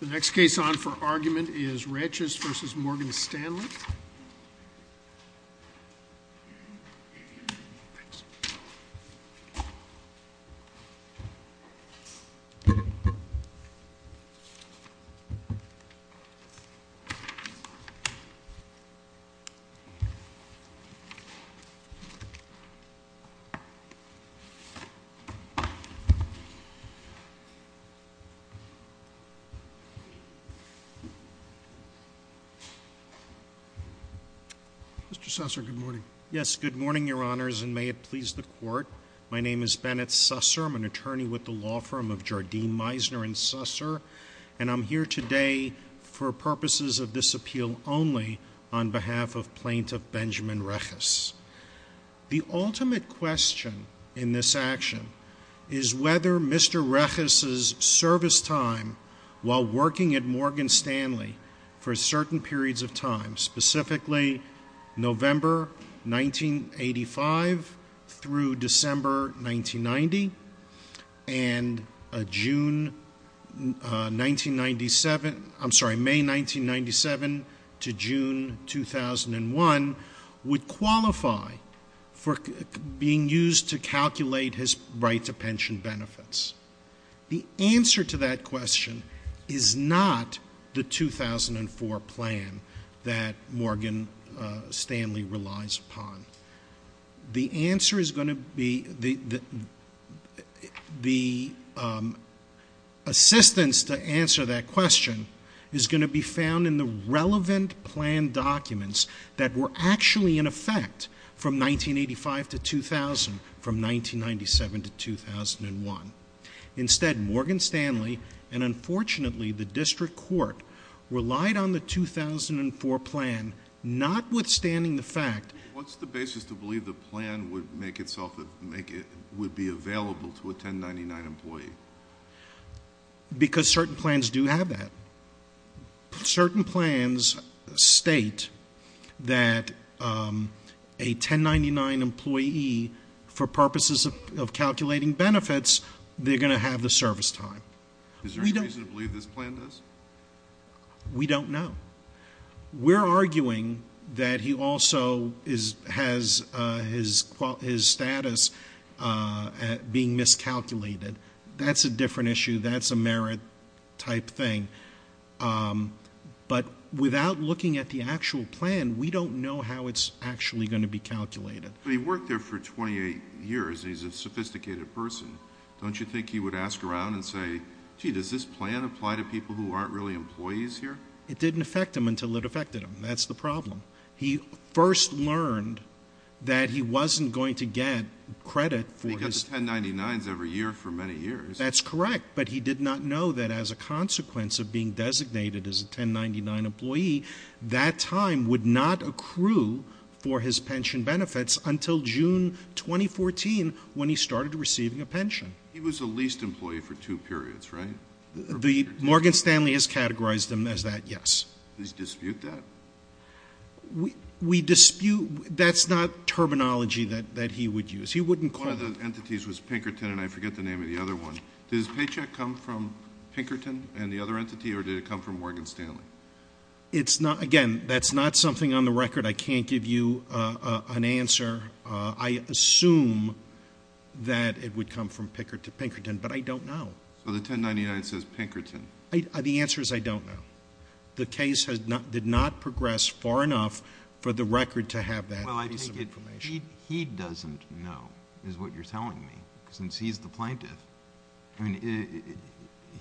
The next case on for argument is Reches v. Morgan Stanley & Co. Mr. Susser, good morning. Yes, good morning, your honors, and may it please the court. My name is Bennett Susser, I'm an attorney with the law firm of Jardim, Meisner & Susser, and I'm here today for purposes of this appeal only on behalf of Plaintiff Benjamin Reches. The ultimate question in this action is whether Mr. Reches' service time while working at Morgan Stanley for certain periods of time, specifically November 1985 through December 1990 and June 1997, I'm sorry, May 1997 to June 2001 would qualify for being used to calculate his right to pension benefits. The answer to that question is not the 2004 plan that Morgan Stanley relies upon. The answer is going to be, the assistance to answer that question is going to be found in the relevant plan documents that were actually in effect from 1985 to 2000, from 1997 to 2001. Instead, Morgan Stanley, and unfortunately the district court, relied on the 2004 plan, notwithstanding the fact- What's the basis to believe the plan would make itself, would be available to a 1099 employee? Because certain plans do have that. Certain plans state that a 1099 employee, for purposes of calculating benefits, they're going to have the service time. Is there a reason to believe this plan does? We don't know. We're arguing that he also has his status being miscalculated. That's a different issue, that's a merit type thing. But without looking at the actual plan, we don't know how it's actually going to be calculated. But he worked there for 28 years, he's a sophisticated person. Don't you think he would ask around and say, gee, does this plan apply to people who aren't really employees here? It didn't affect him until it affected him, that's the problem. He first learned that he wasn't going to get credit for his- He gets 1099s every year for many years. That's correct, but he did not know that as a consequence of being designated as a 1099 employee, that time would not accrue for his pension benefits until June 2014, when he started receiving a pension. He was a leased employee for two periods, right? The Morgan Stanley has categorized him as that, yes. Does he dispute that? We dispute, that's not terminology that he would use. He wouldn't call- One of the entities was Pinkerton, and I forget the name of the other one. Does his paycheck come from Pinkerton and the other entity, or did it come from Morgan Stanley? It's not, again, that's not something on the record. I can't give you an answer. I assume that it would come from Pinkerton, but I don't know. So the 1099 says Pinkerton. The answer is I don't know. The case did not progress far enough for the record to have that piece of information. He doesn't know, is what you're telling me, since he's the plaintiff.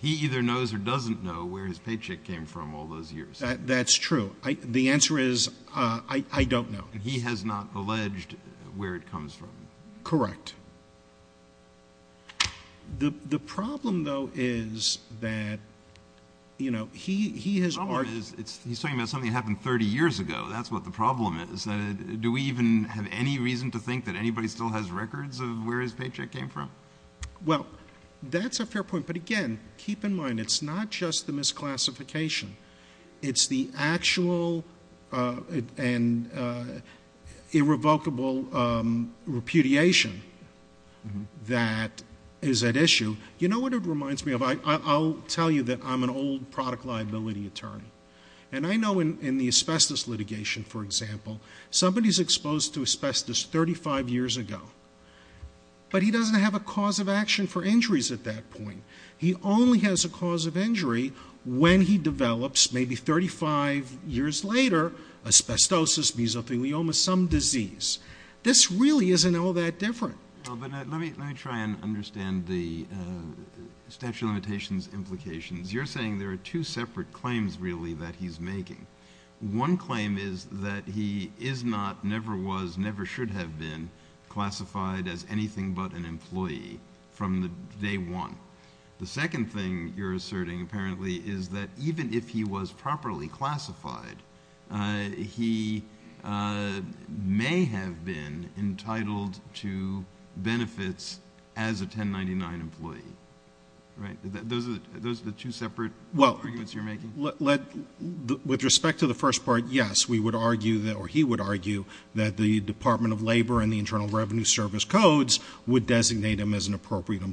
He either knows or doesn't know where his paycheck came from all those years. That's true. The answer is I don't know. And he has not alleged where it comes from. Correct. The problem, though, is that, you know, he has- The problem is he's talking about something that happened 30 years ago. That's what the problem is. Do we even have any reason to think that anybody still has records of where his paycheck came from? Well, that's a fair point, but again, keep in mind, it's not just the misclassification. It's the actual and irrevocable repudiation that is at issue. You know what it reminds me of? I'll tell you that I'm an old product liability attorney. And I know in the asbestos litigation, for example, somebody's exposed to asbestos 35 years ago. But he doesn't have a cause of action for injuries at that point. He only has a cause of injury when he develops, maybe 35 years later, asbestosis, mesothelioma, some disease. This really isn't all that different. But let me try and understand the statute of limitations implications. You're saying there are two separate claims really that he's making. One claim is that he is not, never was, never should have been classified as anything but an employee from day one. The second thing you're asserting, apparently, is that even if he was properly classified, he may have been entitled to benefits as a 1099 employee, right? Those are the two separate arguments you're making? With respect to the first part, yes, we would argue, or he would argue, that the Department of Labor and the Internal Revenue Service codes would designate him as an appropriate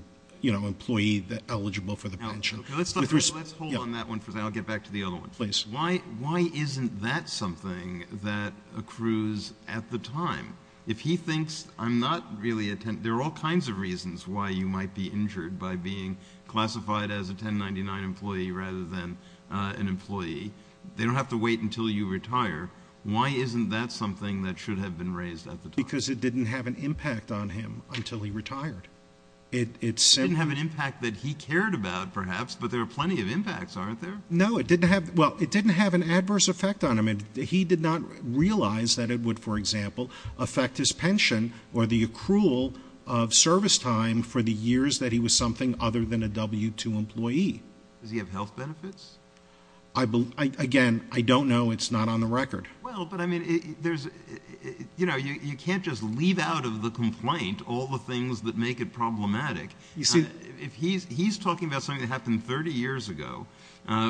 employee eligible for the pension. Let's hold on that one for a second, I'll get back to the other one. Please. Why isn't that something that accrues at the time? If he thinks I'm not really, there are all kinds of reasons why you might be injured by being an employee, they don't have to wait until you retire. Why isn't that something that should have been raised at the time? Because it didn't have an impact on him until he retired. It didn't have an impact that he cared about, perhaps, but there are plenty of impacts, aren't there? No, it didn't have, well, it didn't have an adverse effect on him. He did not realize that it would, for example, affect his pension or the accrual of service time for the years that he was something other than a W-2 employee. Does he have health benefits? Again, I don't know, it's not on the record. Well, but I mean, you can't just leave out of the complaint all the things that make it problematic. He's talking about something that happened 30 years ago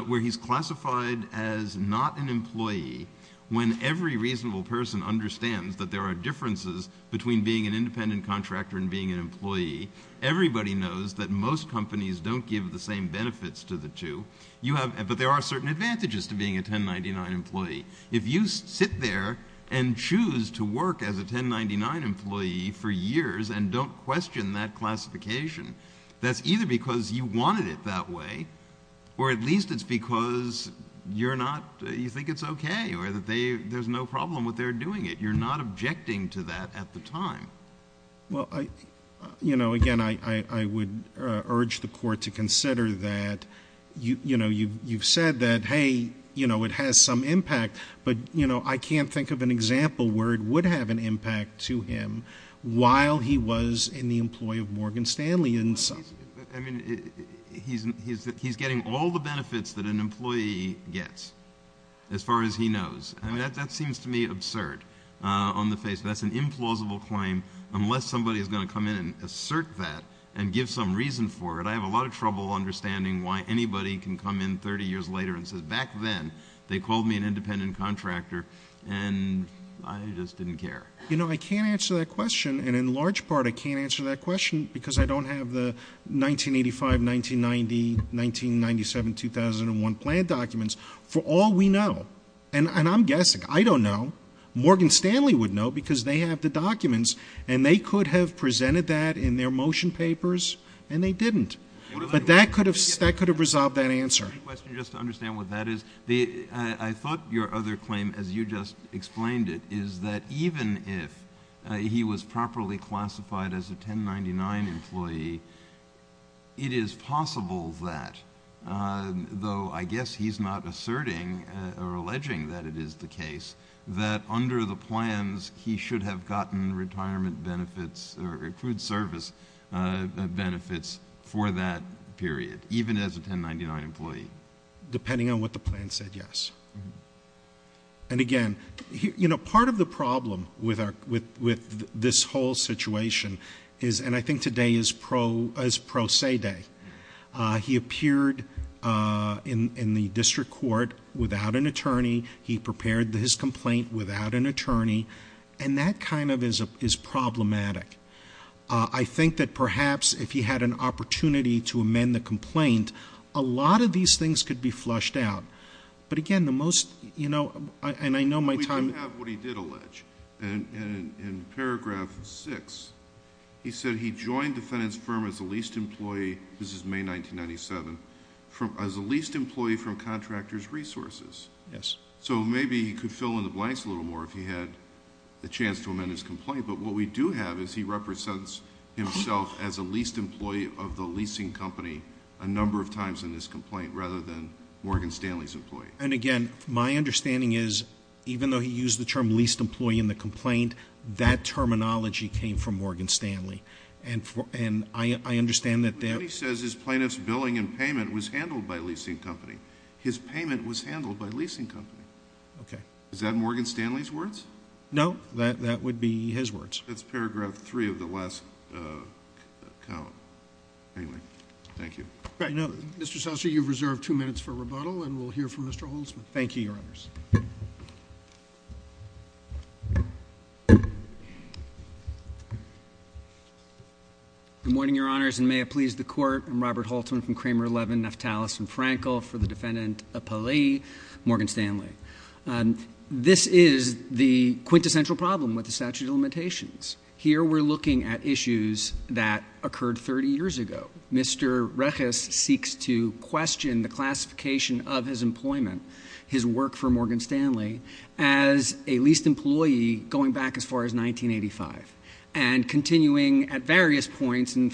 where he's classified as not an employee when every reasonable person understands that there are differences between being an independent contractor and being an employee. Everybody knows that most companies don't give the same benefits to the two, but there are certain advantages to being a 1099 employee. If you sit there and choose to work as a 1099 employee for years and don't question that classification, that's either because you wanted it that way, or at least it's because you think it's okay, or that there's no problem with their doing it. You're not objecting to that at the time. Well, again, I would urge the court to consider that. You've said that, hey, it has some impact, but I can't think of an example where it would have an impact to him while he was in the employee of Morgan Stanley. And so- I mean, he's getting all the benefits that an employee gets, as far as he knows. And that seems to me absurd on the face. That's an implausible claim unless somebody's going to come in and assert that and give some reason for it. I have a lot of trouble understanding why anybody can come in 30 years later and say back then they called me an independent contractor and I just didn't care. You know, I can't answer that question, and in large part I can't answer that question because I don't have the 1985, 1990, 1997, 2001 plan documents for all we know. And I'm guessing, I don't know, Morgan Stanley would know because they have the documents and they could have presented that in their motion papers and they didn't. But that could have resolved that answer. My question, just to understand what that is, I thought your other claim, as you just explained it, is that even if he was properly classified as a 1099 employee, it is possible that, though I guess he's not asserting or alleging that it is the case, that under the plans he should have gotten retirement benefits or accrued service benefits for that period, even as a 1099 employee. Depending on what the plan said, yes. And again, part of the problem with this whole situation is, and I think today is pro se day, he appeared in the district court without an attorney. He prepared his complaint without an attorney, and that kind of is problematic. I think that perhaps if he had an opportunity to amend the complaint, a lot of these things could be flushed out. But again, the most, you know, and I know my time- In paragraph six, he said he joined the defendant's firm as a leased employee, this is May 1997, as a leased employee from Contractors Resources. Yes. So maybe he could fill in the blanks a little more if he had the chance to amend his complaint. But what we do have is he represents himself as a leased employee of the leasing company a number of times in this complaint rather than Morgan Stanley's employee. And again, my understanding is, even though he used the term leased employee in the complaint, that terminology came from Morgan Stanley, and I understand that there- What he says is plaintiff's billing and payment was handled by leasing company. His payment was handled by leasing company. Okay. Is that Morgan Stanley's words? No, that would be his words. That's paragraph three of the last count, anyway, thank you. All right, now, Mr. Seltzer, you've reserved two minutes for rebuttal, and we'll hear from Mr. Holtzman. Thank you, Your Honors. Good morning, Your Honors, and may it please the court. I'm Robert Holtzman from Kramer 11, Neftalys and Frankel for the defendant, a poli, Morgan Stanley. This is the quintessential problem with the statute of limitations. Here we're looking at issues that occurred 30 years ago. Mr. Reches seeks to question the classification of his employment, his work for Morgan Stanley, as a leased employee going back as far as 1985. And continuing at various points and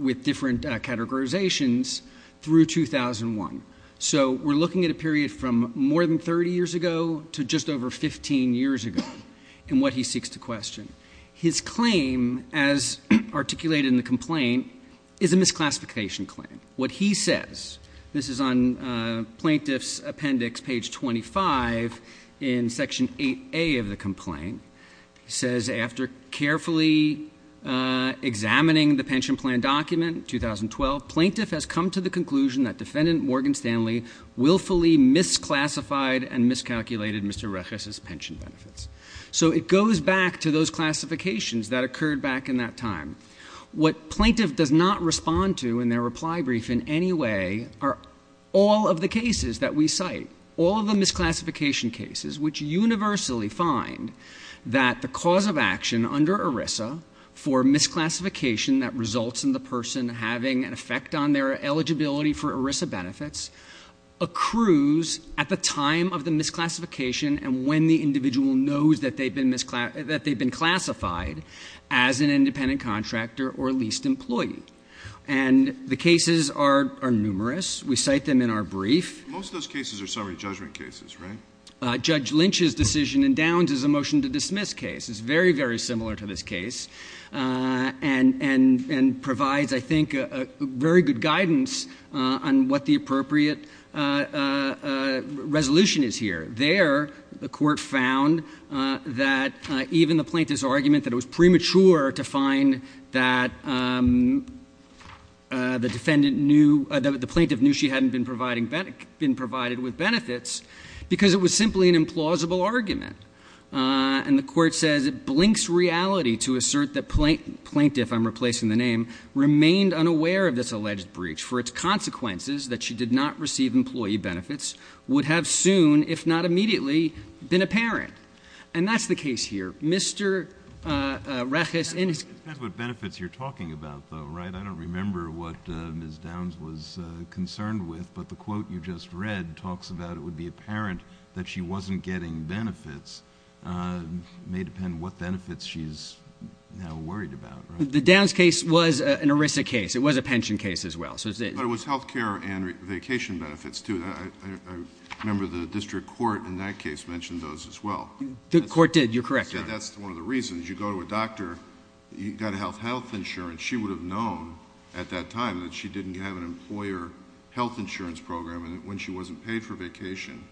with different categorizations through 2001. So we're looking at a period from more than 30 years ago to just over 15 years ago, and what he seeks to question. His claim, as articulated in the complaint, is a misclassification claim. What he says, this is on Plaintiff's appendix, page 25 in section 8A of the complaint. He says, after carefully examining the pension plan document, 2012. Plaintiff has come to the conclusion that defendant Morgan Stanley willfully misclassified and miscalculated Mr. Reches's pension benefits. So it goes back to those classifications that occurred back in that time. What plaintiff does not respond to in their reply brief in any way are all of the cases that we cite. All of the misclassification cases, which universally find that the cause of action under ERISA for misclassification that results in the person having an effect on their eligibility for ERISA benefits accrues at the time of the misclassification and when the individual knows that they've been classified as an independent contractor or leased employee. And the cases are numerous. We cite them in our brief. Most of those cases are summary judgment cases, right? Judge Lynch's decision in Downs is a motion to dismiss case. It's very, very similar to this case and provides, I think, very good guidance on what the appropriate resolution is here. There, the court found that even the plaintiff's argument that it was premature to find that the plaintiff knew she hadn't been provided with benefits because it was simply an implausible argument. And the court says it blinks reality to assert that plaintiff, I'm replacing the name, remained unaware of this alleged breach for its consequences that she did not receive employee benefits, would have soon, if not immediately, been a parent. And that's the case here. Mr. Rechis in his- It depends what benefits you're talking about though, right? I don't remember what Ms. Downs was concerned with, but the quote you just read talks about it would be apparent that she wasn't getting benefits. May depend what benefits she's now worried about, right? The Downs case was an ERISA case. It was a pension case as well. So it's- But it was health care and vacation benefits too. I remember the district court in that case mentioned those as well. The court did, you're correct, Your Honor. That's one of the reasons. You go to a doctor, you got health insurance. She would have known at that time that she didn't have an employer health insurance program. And when she wasn't paid for vacation,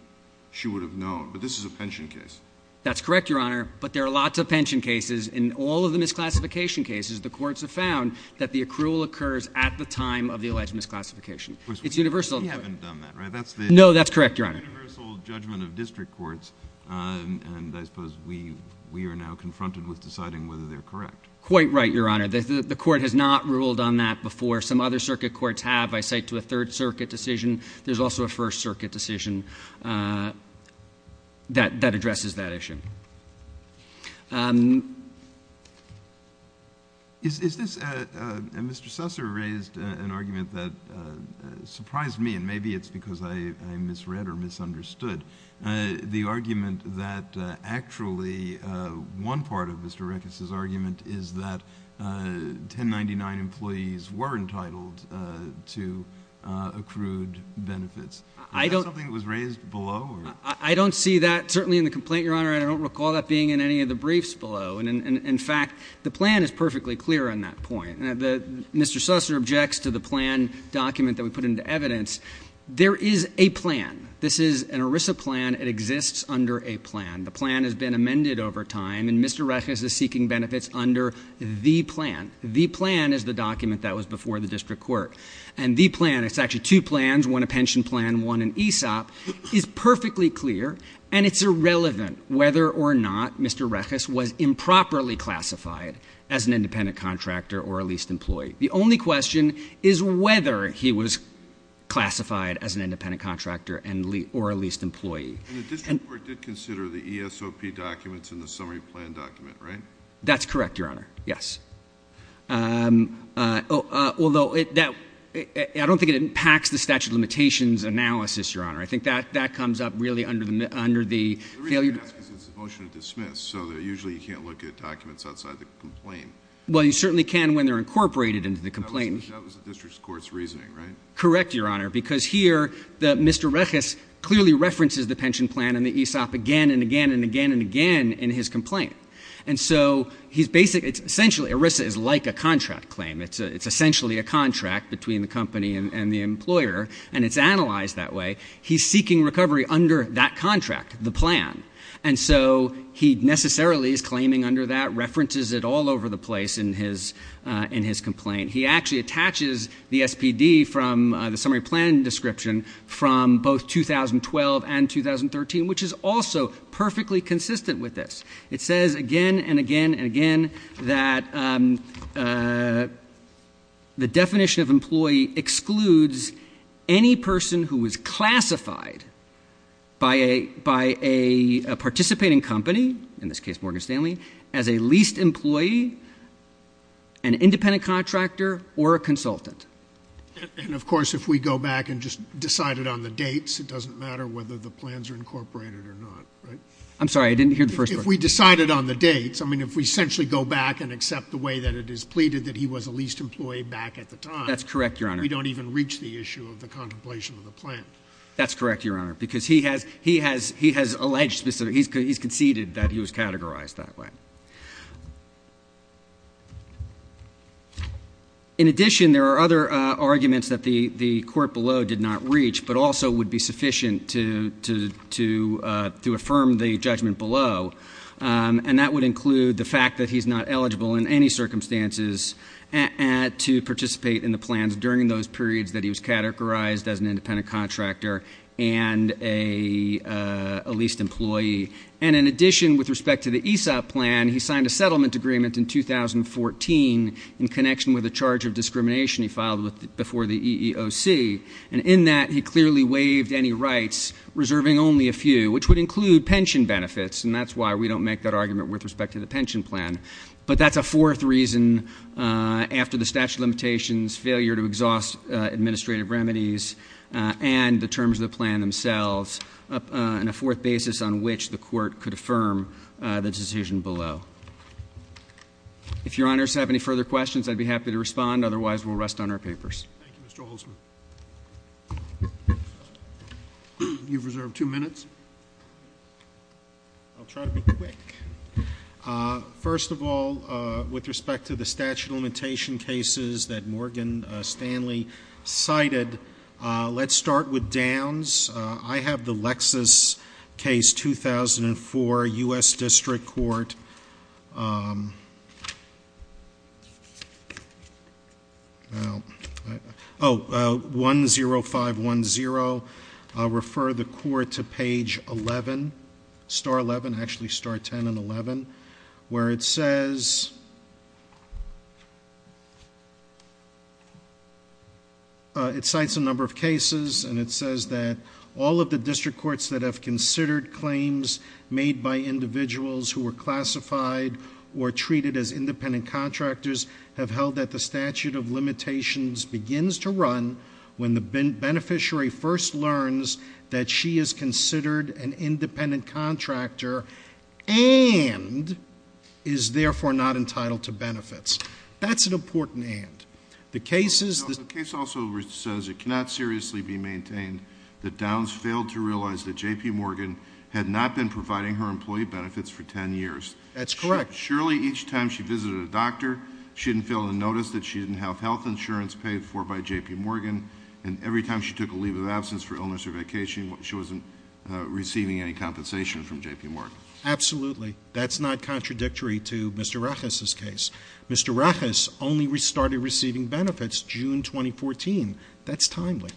she would have known. But this is a pension case. That's correct, Your Honor. But there are lots of pension cases. In all of the misclassification cases, the courts have found that the accrual occurs at the time of the alleged misclassification. It's universal. You haven't done that, right? That's the- No, that's correct, Your Honor. Universal judgment of district courts. And I suppose we are now confronted with deciding whether they're correct. Quite right, Your Honor. The court has not ruled on that before. Some other circuit courts have. I cite to a third circuit decision. There's also a first circuit decision that addresses that issue. Is this, and Mr. Susser raised an argument that surprised me, and maybe it's because I misread or misunderstood. The argument that actually, one part of Mr. Reckis' argument is that 1099 employees were entitled to accrued benefits. Is that something that was raised below? I don't see that, certainly in the complaint, Your Honor. I don't recall that being in any of the briefs below. And in fact, the plan is perfectly clear on that point. Mr. Susser objects to the plan document that we put into evidence. There is a plan. This is an ERISA plan. It exists under a plan. The plan has been amended over time, and Mr. Reckis is seeking benefits under the plan. The plan is the document that was before the district court. And the plan, it's actually two plans, one a pension plan, one an ESOP, is perfectly clear. And it's irrelevant whether or not Mr. Reckis was improperly classified as an independent contractor or a leased employee. The only question is whether he was classified as an independent contractor or a leased employee. And the district court did consider the ESOP documents in the summary plan document, right? That's correct, Your Honor. Yes. Although, I don't think it impacts the statute of limitations analysis, Your Honor. I think that comes up really under the failure- The reason I ask is it's a motion to dismiss, so usually you can't look at documents outside the complaint. Well, you certainly can when they're incorporated into the complaint. That was the district court's reasoning, right? Correct, Your Honor, because here, Mr. Reckis clearly references the pension plan and the ESOP again, and again, and again, and again in his complaint. And so, he's basically, it's essentially, ERISA is like a contract claim. It's essentially a contract between the company and the employer, and it's analyzed that way. He's seeking recovery under that contract, the plan. And so, he necessarily is claiming under that, references it all over the place in his complaint. He actually attaches the SPD from the summary plan description from both 2012 and 2013, which is also perfectly consistent with this. It says again, and again, and again, that the definition of employee excludes any person who is classified by a participating company, in this case, Morgan Stanley, as a leased employee, an independent contractor, or a consultant. And of course, if we go back and just decide it on the dates, it doesn't matter whether the plans are incorporated or not, right? I'm sorry, I didn't hear the first part. If we decided on the dates, I mean, if we essentially go back and accept the way that it is pleaded that he was a leased employee back at the time- That's correct, Your Honor. We don't even reach the issue of the contemplation of the plan. That's correct, Your Honor, because he has alleged, he's conceded that he was categorized that way. In addition, there are other arguments that the court below did not reach, but also would be sufficient to affirm the judgment below. And that would include the fact that he's not eligible in any circumstances to participate in the plans during those periods that he was categorized as an independent contractor and a leased employee. And in addition, with respect to the ESOP plan, he signed a settlement agreement in 2014 in connection with a charge of discrimination he filed before the EEOC. And in that, he clearly waived any rights, reserving only a few, which would include pension benefits. And that's why we don't make that argument with respect to the pension plan. But that's a fourth reason after the statute of limitations, failure to exhaust administrative remedies, and the terms of the plan themselves, and a fourth basis on which the court could affirm the decision below. If Your Honors have any further questions, I'd be happy to respond. Otherwise, we'll rest on our papers. Thank you, Mr. Holzman. You've reserved two minutes. I'll try to be quick. First of all, with respect to the statute of limitation cases that Morgan Stanley cited, let's start with downs. I have the Lexis case, 2004, US District Court. 10510, refer the court to page 11, star 11. Actually, star 10 and 11, where it says, It cites a number of cases, and it says that all of the district courts that have considered claims made by individuals who were classified or treated as independent contractors have held that the statute of limitations begins to run when the beneficiary first learns that she is considered an independent contractor and is therefore not entitled to benefits. That's an important and. The case also says it cannot seriously be maintained that Downs failed to realize that JP Morgan had not been providing her employee benefits for ten years. That's correct. Surely each time she visited a doctor, she didn't fail to notice that she didn't have health insurance paid for by JP Morgan. And every time she took a leave of absence for illness or vacation, she wasn't receiving any compensation from JP Morgan. Absolutely. That's not contradictory to Mr. Rechis's case. Mr. Rechis only started receiving benefits June 2014. That's timely.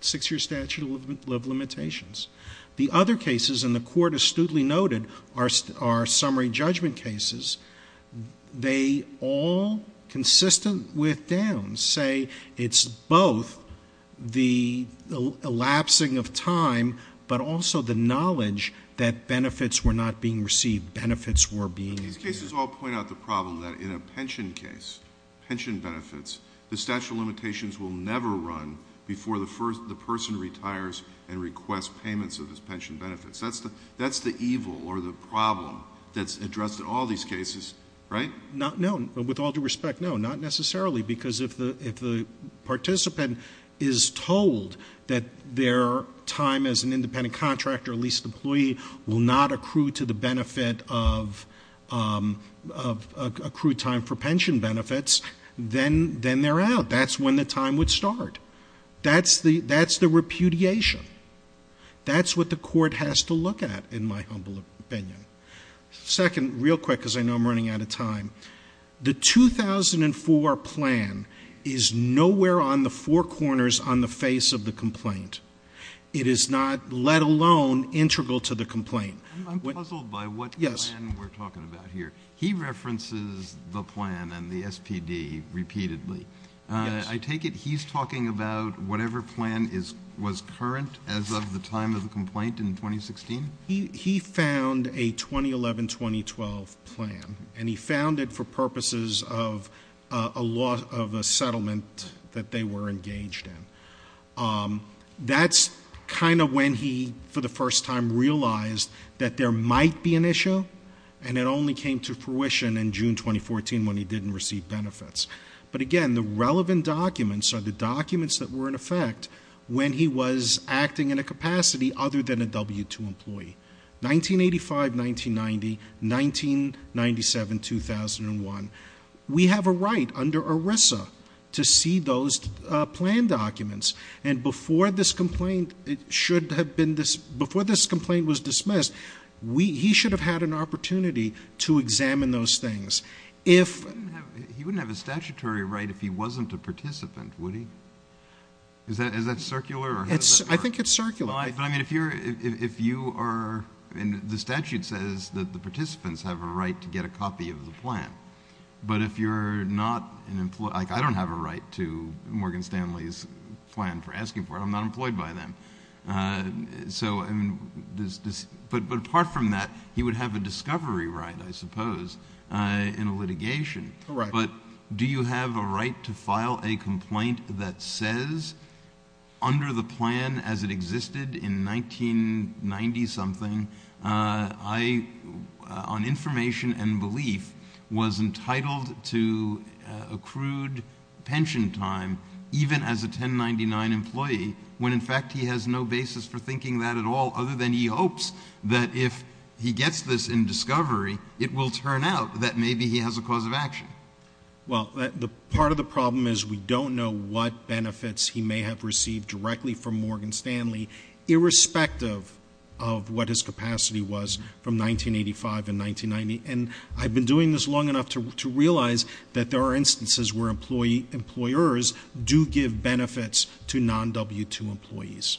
Six year statute of limitations. The other cases in the court astutely noted are summary judgment cases. They all, consistent with Downs, say it's both the elapsing of time, but also the knowledge that benefits were not being received, benefits were being- These cases all point out the problem that in a pension case, pension benefits, the statute of limitations will never run before the person retires and requests payments of his pension benefits. That's the evil or the problem that's addressed in all these cases, right? Not known, but with all due respect, no, not necessarily. Because if the participant is told that their time as an independent contractor, leased employee, will not accrue to the benefit of accrued time for pension benefits, then they're out. That's when the time would start. That's the repudiation. That's what the court has to look at, in my humble opinion. Second, real quick, because I know I'm running out of time. The 2004 plan is nowhere on the four corners on the face of the complaint. It is not, let alone, integral to the complaint. I'm puzzled by what plan we're talking about here. He references the plan and the SPD repeatedly. I take it he's talking about whatever plan was current as of the time of the complaint in 2016? He found a 2011-2012 plan, and he found it for purposes of a lot of the settlement that they were engaged in. That's kind of when he, for the first time, realized that there might be an issue. And it only came to fruition in June 2014 when he didn't receive benefits. But again, the relevant documents are the documents that were in effect when he was acting in a capacity other than a W-2 employee. 1985, 1990, 1997, 2001. We have a right under ERISA to see those plan documents. And before this complaint was dismissed, he should have had an opportunity to examine those things. If- He wouldn't have a statutory right if he wasn't a participant, would he? Is that circular? I think it's circular. But I mean, if you are, and the statute says that the participants have a right to get a copy of the plan. But if you're not an employee, like I don't have a right to Morgan Stanley's plan for asking for it. I'm not employed by them. So, but apart from that, he would have a discovery right, I suppose, in a litigation. Correct. But do you have a right to file a complaint that says under the plan as it existed in 1990 something, I, on information and belief, was entitled to accrued pension time even as a 1099 employee. When in fact he has no basis for thinking that at all other than he hopes that if he gets this in discovery, it will turn out that maybe he has a cause of action. Well, part of the problem is we don't know what benefits he may have received directly from Morgan Stanley, irrespective of what his capacity was from 1985 and 1990. And I've been doing this long enough to realize that there are instances where employers do give benefits to non-W2 employees.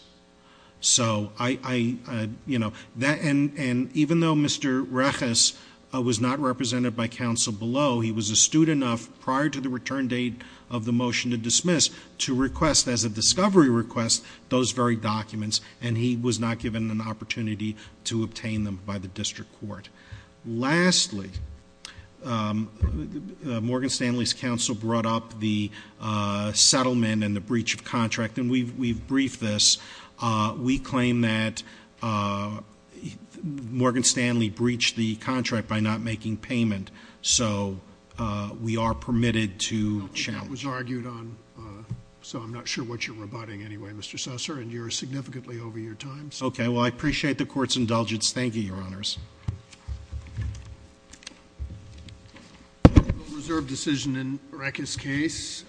So I, and even though Mr. Rechis was not represented by counsel below, he was astute enough prior to the return date of the motion to dismiss to request as a discovery request those very documents. And he was not given an opportunity to obtain them by the district court. Lastly, Morgan Stanley's counsel brought up the settlement and the breach of contract, and we've briefed this. We claim that Morgan Stanley breached the contract by not making payment. So we are permitted to challenge. That was argued on, so I'm not sure what you're rebutting anyway, Mr. Susser, and you're significantly over your time. Okay, well I appreciate the court's indulgence. Thank you, your honors. Reserved decision in Rechis' case.